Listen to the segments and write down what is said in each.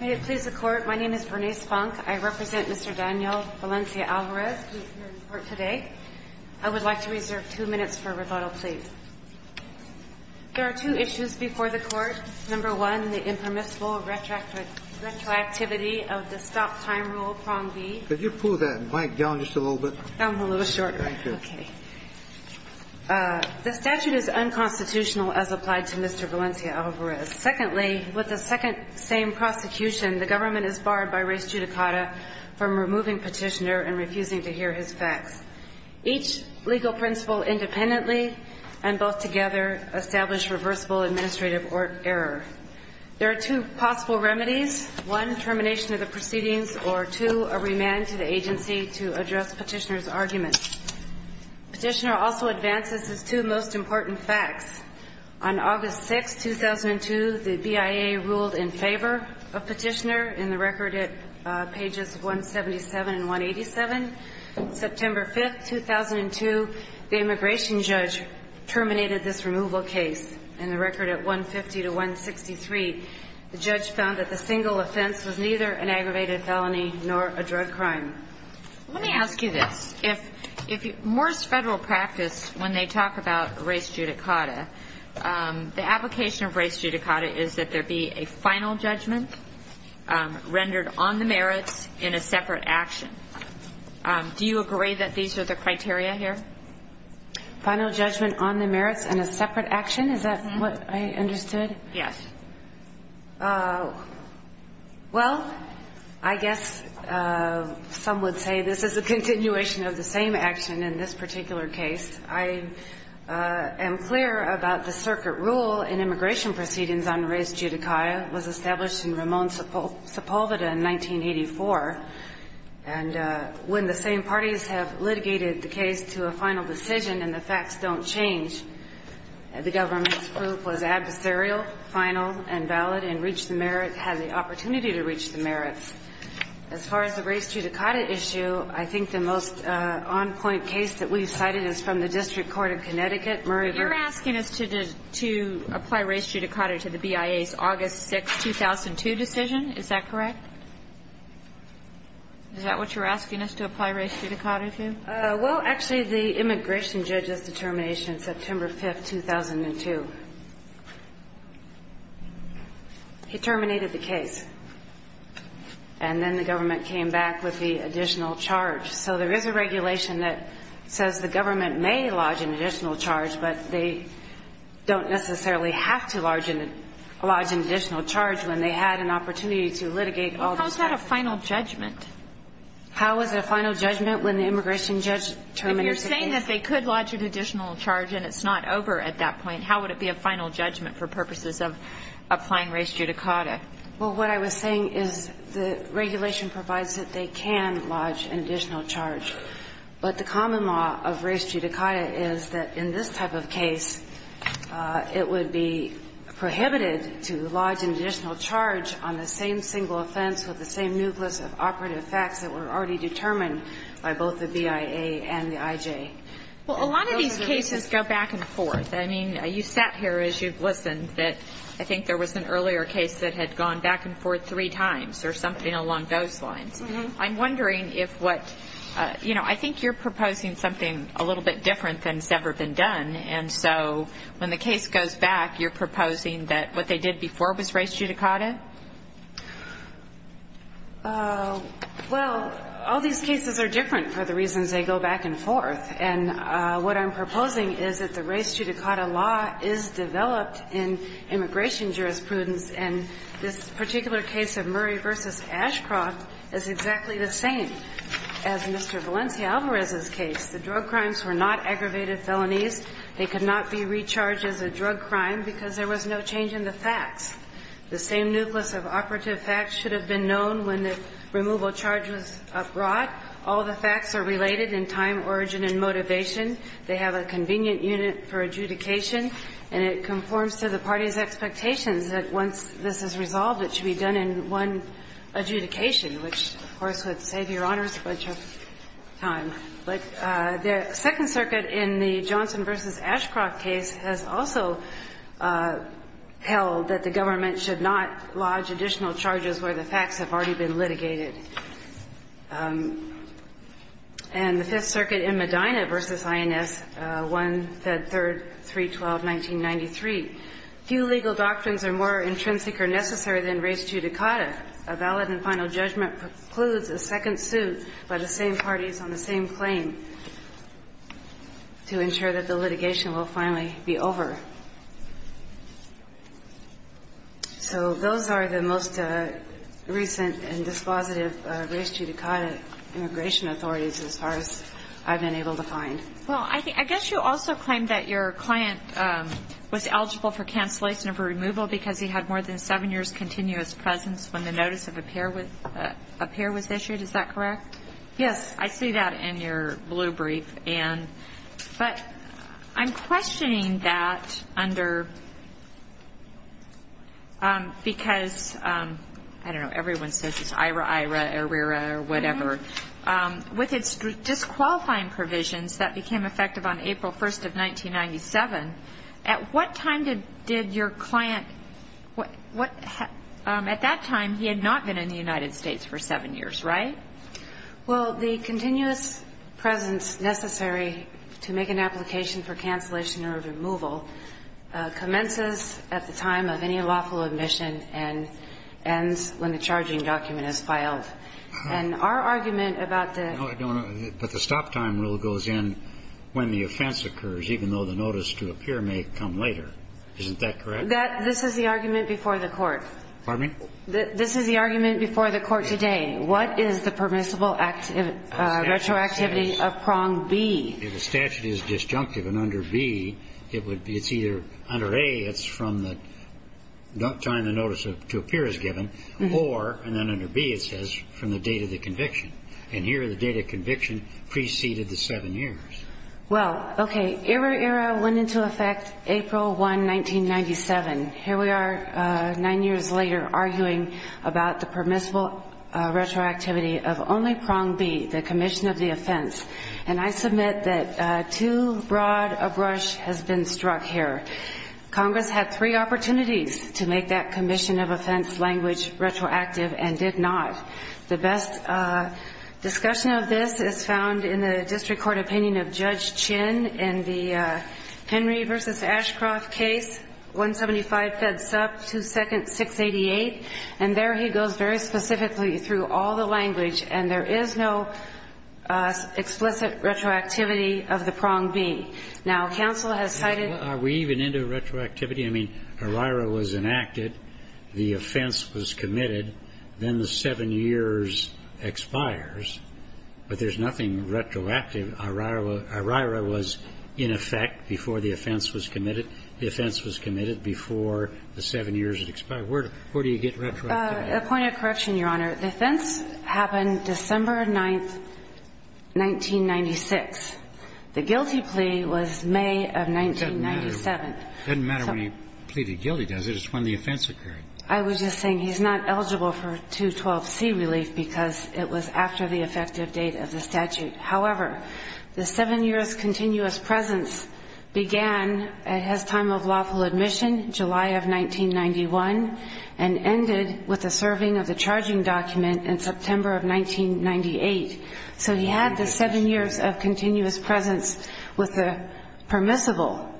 May it please the Court, my name is Bernice Funk. I represent Mr. Daniel Valencia-Alvarez who is here in court today. I would like to reserve two minutes for rebuttal, please. There are two issues before the Court. Number one, the impermissible retroactivity of the Stop Time Rule, Prong B. Could you pull that mic down just a little bit? I'm a little short. Thank you. Okay. The statute is unconstitutional as applied to Mr. Valencia-Alvarez. Secondly, with the second same prosecution, the government is barred by res judicata from removing Petitioner and refusing to hear his facts. Each legal principle independently and both together establish reversible administrative error. There are two possible remedies. One, termination of the proceedings, or two, a remand to the agency to address Petitioner's arguments. Petitioner also advances his two most important facts. On August 6, 2002, the BIA ruled in favor of Petitioner in the record at pages 177 and 187. September 5, 2002, the immigration judge terminated this removal case. In the record at 150 to 163, the judge found that the single offense was neither an aggravated felony nor a drug crime. Let me ask you this. If Morse Federal practice, when they talk about res judicata, the application of res judicata is that there be a final judgment rendered on the merits in a separate action. Do you agree that these are the criteria here? Final judgment on the merits in a separate action? Is that what I understood? Yes. Well, I guess some would say this is a continuation of the same action in this particular case. I am clear about the circuit rule in immigration proceedings on res judicata was established in Ramon Sepulveda in 1984. And when the same parties have litigated the case to a final decision and the facts don't change, the government's proof was adversarial, final, and valid and reached the merits, had the opportunity to reach the merits. As far as the res judicata issue, I think the most on-point case that we've cited is from the District Court of Connecticut, Murray v. You're asking us to apply res judicata to the BIA's August 6, 2002 decision. Is that correct? Is that what you're asking us to apply res judicata to? Well, actually, the immigration judge's determination, September 5, 2002, he terminated the case. And then the government came back with the additional charge. So there is a regulation that says the government may lodge an additional charge, but they don't necessarily have to lodge an additional charge when they had an opportunity to litigate all those facts. Well, how is that a final judgment? How is it a final judgment when the immigration judge terminates the case? If you're saying that they could lodge an additional charge and it's not over at that point, how would it be a final judgment for purposes of applying res judicata? Well, what I was saying is the regulation provides that they can lodge an additional charge, but the common law of res judicata is that in this type of case, it would be prohibited to lodge an additional charge on the same single offense with the same nucleus of operative facts that were already determined by both the BIA and the IJ. Well, a lot of these cases go back and forth. I mean, you sat here as you listened that I think there was an earlier case that had gone back and forth three times or something along those lines. I'm wondering if what you know, I think you're proposing something a little bit different than has ever been done. And so when the case goes back, you're proposing that what they did before was res judicata? Well, all these cases are different for the reasons they go back and forth. And what I'm proposing is that the res judicata law is developed in immigration jurisprudence, and this particular case of Murray v. Ashcroft is exactly the same as Mr. Valencia-Alvarez's case. The drug crimes were not aggravated felonies. They could not be recharged as a drug crime because there was no change in the facts. The same nucleus of operative facts should have been known when the removal charge was brought. All the facts are related in time, origin, and motivation. They have a convenient unit for adjudication, and it conforms to the party's expectations that once this is resolved, it should be done in one adjudication, which, of course, would save Your Honors a bunch of time. But the Second Circuit in the Johnson v. Ashcroft case has also held that the government should not lodge additional charges where the facts have already been litigated. And the Fifth Circuit in Medina v. INS, 1, Fed 3, 312, 1993, few legal doctrines are more intrinsic or necessary than res judicata. A valid and final judgment precludes a second suit by the same parties on the same claim to ensure that the litigation will finally be over. So those are the most recent and dispositive res judicata immigration authorities as far as I've been able to find. Well, I guess you also claim that your client was eligible for cancellation of a removal because he had more than seven years' continuous presence when the notice of appearance was issued. Is that correct? Yes. I see that in your blue brief. But I'm questioning that under because, I don't know, everyone says it's IRA, IRA, ARERA, or whatever. With its disqualifying provisions that became effective on April 1st of 1997, at what time did your client, at that time he had not been in the United States for seven years, right? Well, the continuous presence necessary to make an application for cancellation or removal commences at the time of any lawful admission and ends when the charging document is filed. And our argument about the stop time rule goes in when the offense occurs, even though the notice to appear may come later. Isn't that correct? This is the argument before the Court. Pardon me? This is the argument before the Court today. What is the permissible retroactivity of prong B? If the statute is disjunctive and under B, it's either under A, it's from the time the notice to appear is given, or, and then under B it says, from the date of the conviction. And here the date of conviction preceded the seven years. Well, okay, ERA-ERA went into effect April 1, 1997. Here we are nine years later arguing about the permissible retroactivity of only prong B, the commission of the offense. And I submit that too broad a brush has been struck here. Congress had three opportunities to make that commission of offense language retroactive and did not. The best discussion of this is found in the district court opinion of Judge Chin in the Henry v. Ashcroft case, 175 fed sup, 2nd, 688. And there he goes very specifically through all the language. And there is no explicit retroactivity of the prong B. Now, counsel has cited the ---- Are we even into retroactivity? I mean, ERA-ERA was enacted. The offense was committed. Then the seven years expires. But there's nothing retroactive. ERA-ERA was in effect before the offense was committed. The offense was committed before the seven years had expired. Where do you get retroactivity? A point of correction, Your Honor. The offense happened December 9, 1996. The guilty plea was May of 1997. It doesn't matter when he pleaded guilty, does it? It's when the offense occurred. I was just saying he's not eligible for 212C relief because it was after the effective date of the statute. However, the seven years' continuous presence began at his time of lawful admission, July of 1991, and ended with the serving of the charging document in September of 1998. So he had the seven years of continuous presence with the permissible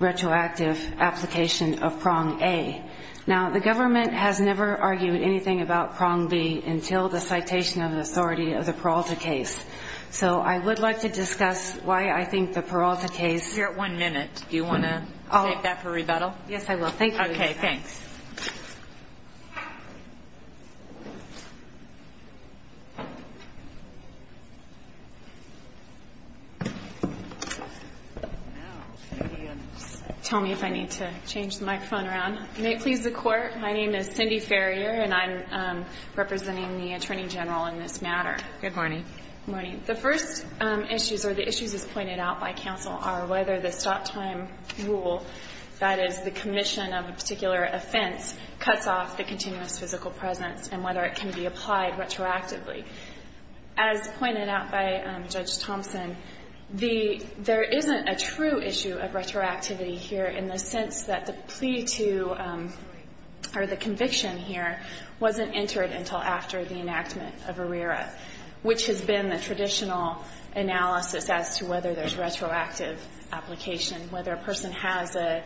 retroactive application of prong A. Now, the government has never argued anything about prong B until the citation of the authority of the Peralta case. So I would like to discuss why I think the Peralta case — You're at one minute. Do you want to take that for rebuttal? Yes, I will. Thank you. Okay, thanks. Tell me if I need to change the microphone around. May it please the Court, my name is Cindy Farrier, and I'm representing the Attorney General in this matter. Good morning. Good morning. The first issues, or the issues as pointed out by counsel, are whether the stop-time rule, that is, the commission of a particular offense, cuts off the continuous physical presence and whether it can be applied retroactively. As pointed out by Judge Thompson, the — there isn't a true issue of retroactivity here in the sense that the plea to — or the conviction here wasn't entered until after the enactment of ARERA, which has been the traditional analysis as to whether there's retroactive application, whether a person has a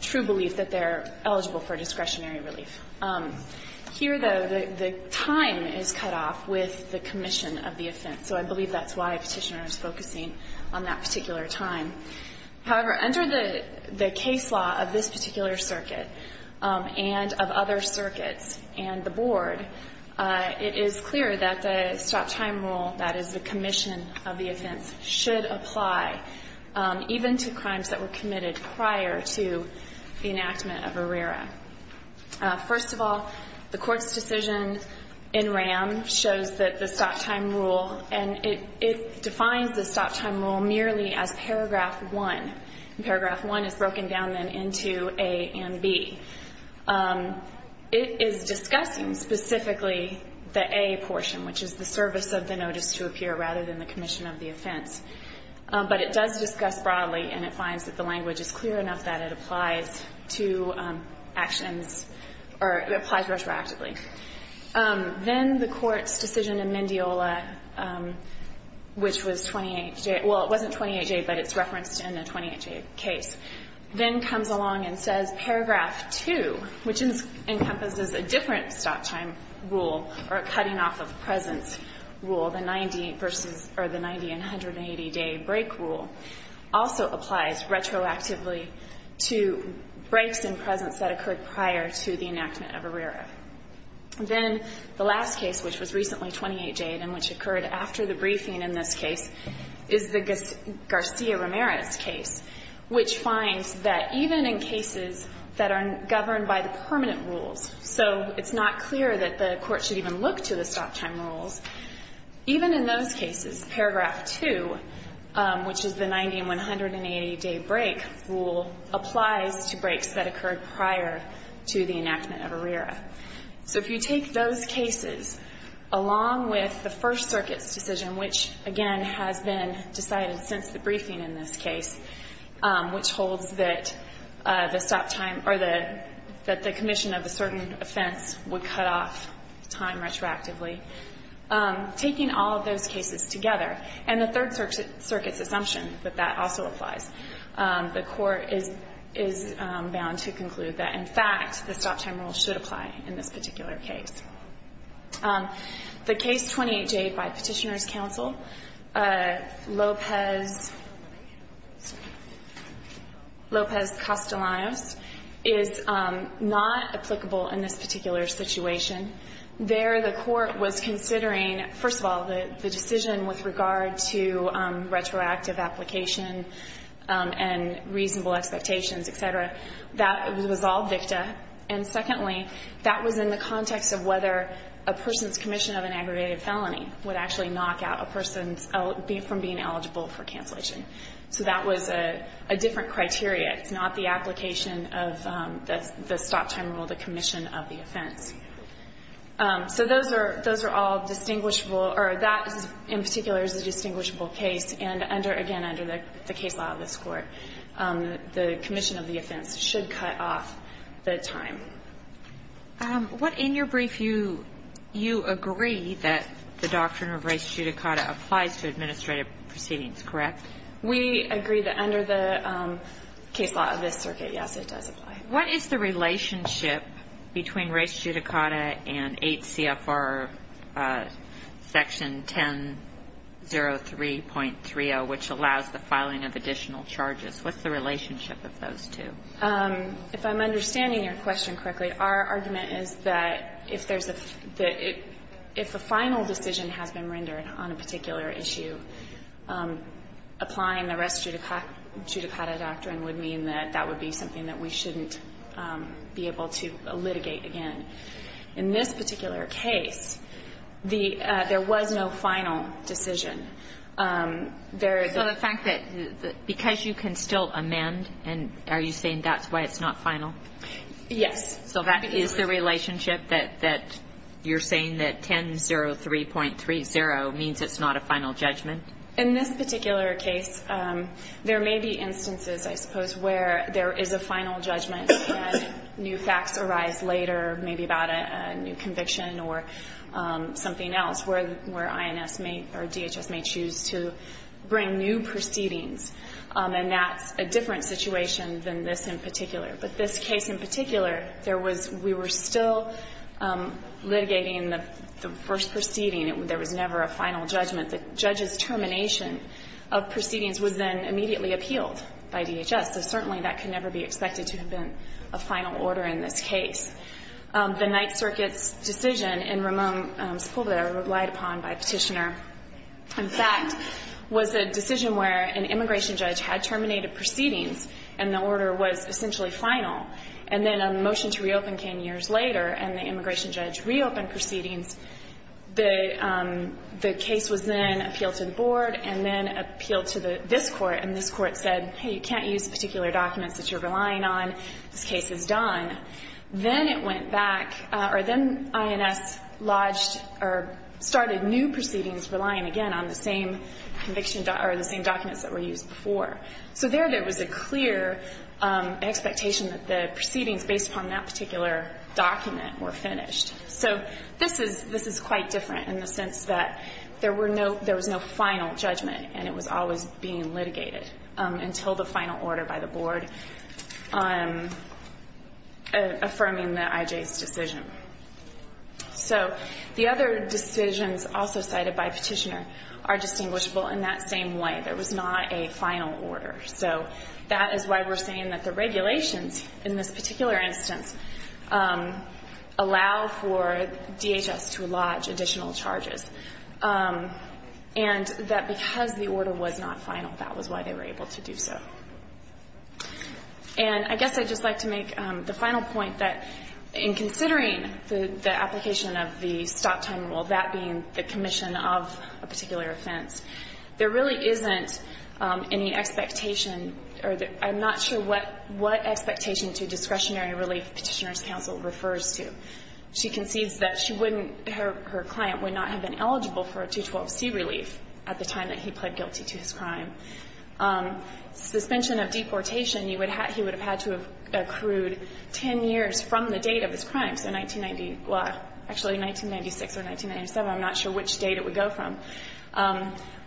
true belief that they're eligible for discretionary relief. Here, though, the time is cut off with the commission of the offense. So I believe that's why Petitioner is focusing on that particular time. However, under the case law of this particular circuit and of other circuits and the should apply, even to crimes that were committed prior to the enactment of ARERA. First of all, the Court's decision in RAM shows that the stop-time rule, and it defines the stop-time rule merely as paragraph 1. And paragraph 1 is broken down then into A and B. It is discussing specifically the A portion, which is the service of the notice to appear rather than the commission of the offense. But it does discuss broadly, and it finds that the language is clear enough that it applies to actions — or it applies retroactively. Then the Court's decision in Mendiola, which was 28J — well, it wasn't 28J, but it's referenced in a 28J case, then comes along and says paragraph 2, which encompasses a different stop-time rule or a cutting-off-of-presence rule, the 90 v. 1. The 90- and 180-day break rule also applies retroactively to breaks in presence that occurred prior to the enactment of ARERA. Then the last case, which was recently 28J and which occurred after the briefing in this case, is the Garcia-Ramirez case, which finds that even in cases that are governed by the permanent rules, so it's not clear that the Court should even look to the stop-time rules, even in those cases, paragraph 2, which is the 90- and 180-day break rule, applies to breaks that occurred prior to the enactment of ARERA. So if you take those cases along with the First Circuit's decision, which, again, has been decided since the briefing in this case, which holds that the stop-time or that the commission of a certain offense would cut off time retroactively, taking all of those cases together, and the Third Circuit's assumption that that also applies, the Court is bound to conclude that, in fact, the stop-time rule should apply in this particular case. The case 28J by Petitioners' Counsel, Lopez-Castellanos, is a case that's been not applicable in this particular situation. There, the Court was considering, first of all, the decision with regard to retroactive application and reasonable expectations, et cetera. That was all victa. And secondly, that was in the context of whether a person's commission of an aggravated felony would actually knock out a person from being eligible for cancellation. So that was a different criteria. It's not the application of the stop-time rule, the commission of the offense. So those are all distinguishable. Or that, in particular, is a distinguishable case. And under, again, under the case law of this Court, the commission of the offense should cut off the time. What, in your brief, you agree that the doctrine of res judicata applies to administrative proceedings, correct? We agree that under the case law of this circuit, yes, it does apply. What is the relationship between res judicata and 8 CFR Section 1003.30, which allows the filing of additional charges? What's the relationship of those two? If I'm understanding your question correctly, our argument is that if there's a the final decision has been rendered on a particular issue, applying the res judicata doctrine would mean that that would be something that we shouldn't be able to litigate again. In this particular case, the – there was no final decision. There is a – So the fact that – because you can still amend, and are you saying that's why it's not final? Yes. So that is the relationship that you're saying that 1003.30 means it's not a final judgment? In this particular case, there may be instances, I suppose, where there is a final judgment and new facts arise later, maybe about a new conviction or something else, where INS may – or DHS may choose to bring new proceedings. And that's a different situation than this in particular. But this case in particular, there was – we were still litigating the first proceeding. There was never a final judgment. The judge's termination of proceedings was then immediately appealed by DHS, so certainly that could never be expected to have been a final order in this case. The Ninth Circuit's decision in Ramon Sepulveda relied upon by Petitioner, in fact, was a decision where an immigration judge had terminated proceedings and the order was essentially final, and then a motion to reopen came years later and the immigration judge reopened proceedings. The case was then appealed to the board and then appealed to this Court, and this Court said, hey, you can't use particular documents that you're relying on. This case is done. Then it went back – or then INS lodged or started new proceedings relying, again, on the same conviction – or the same documents that were used before. So there, there was a clear expectation that the proceedings based upon that particular document were finished. So this is quite different in the sense that there were no – there was no final judgment and it was always being litigated until the final order by the board affirming the IJ's decision. So the other decisions also cited by Petitioner are distinguishable in that same way. There was not a final order. So that is why we're saying that the regulations in this particular instance allow for DHS to lodge additional charges and that because the order was not final, that was why they were able to do so. And I guess I'd just like to make the final point that in considering the application of the stop-time rule, that being the commission of a particular offense, there really isn't any expectation – or I'm not sure what expectation to discretionary relief Petitioner's counsel refers to. She concedes that she wouldn't – her client would not have been eligible for a 212C relief at the time that he pled guilty to his crime. Suspension of deportation, you would have – he would have had to have accrued 10 years from the date of his crime. So 1990 – well, actually 1996 or 1997. I'm not sure which date it would go from.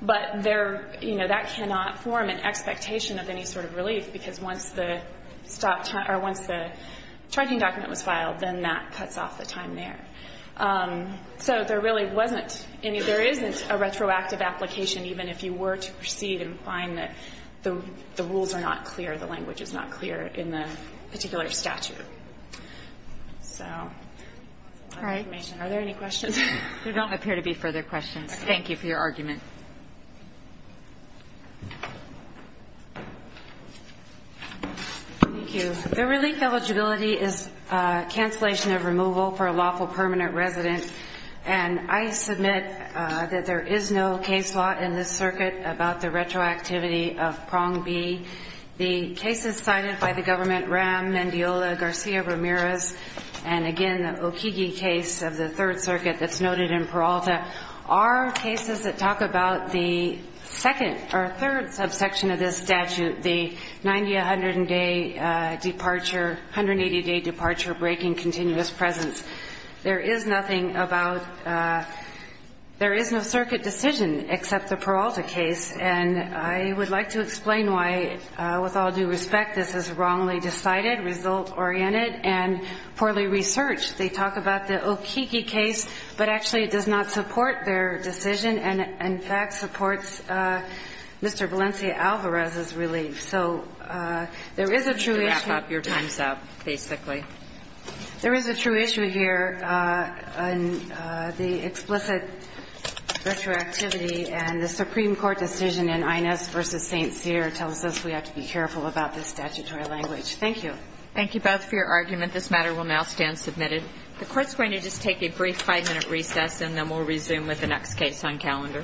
But there – you know, that cannot form an expectation of any sort of relief, because once the stop – or once the charging document was filed, then that cuts off the time there. So there really wasn't any – there isn't a retroactive application even if you were to proceed and find that the rules are not clear, the language is not clear in the particular statute. So that's my information. Are there any questions? There don't appear to be further questions. Thank you for your argument. Thank you. The relief eligibility is cancellation of removal for a lawful permanent resident. And I submit that there is no case law in this circuit about the retroactivity of prong B. The cases cited by the government, Ram, Mendiola, Garcia-Ramirez, and, again, the Okigi case of the Third Circuit that's noted in Peralta are cases that talk about the second – or third subsection of this statute, the 90-100-day departure – 180-day departure breaking continuous presence. There is nothing about – there is no circuit decision except the Peralta case. And I would like to explain why, with all due respect, this is wrongly decided, result-oriented, and poorly researched. They talk about the Okigi case, but actually it does not support their decision and, in fact, supports Mr. Valencia-Alvarez's relief. So there is a true issue – To wrap up your time, basically. There is a true issue here. The explicit retroactivity and the Supreme Court decision in Inez v. St. Cyr tells us we have to be careful about this statutory language. Thank you. Thank you both for your argument. This matter will now stand submitted. The Court's going to just take a brief five-minute recess, and then we'll resume with the next case on calendar.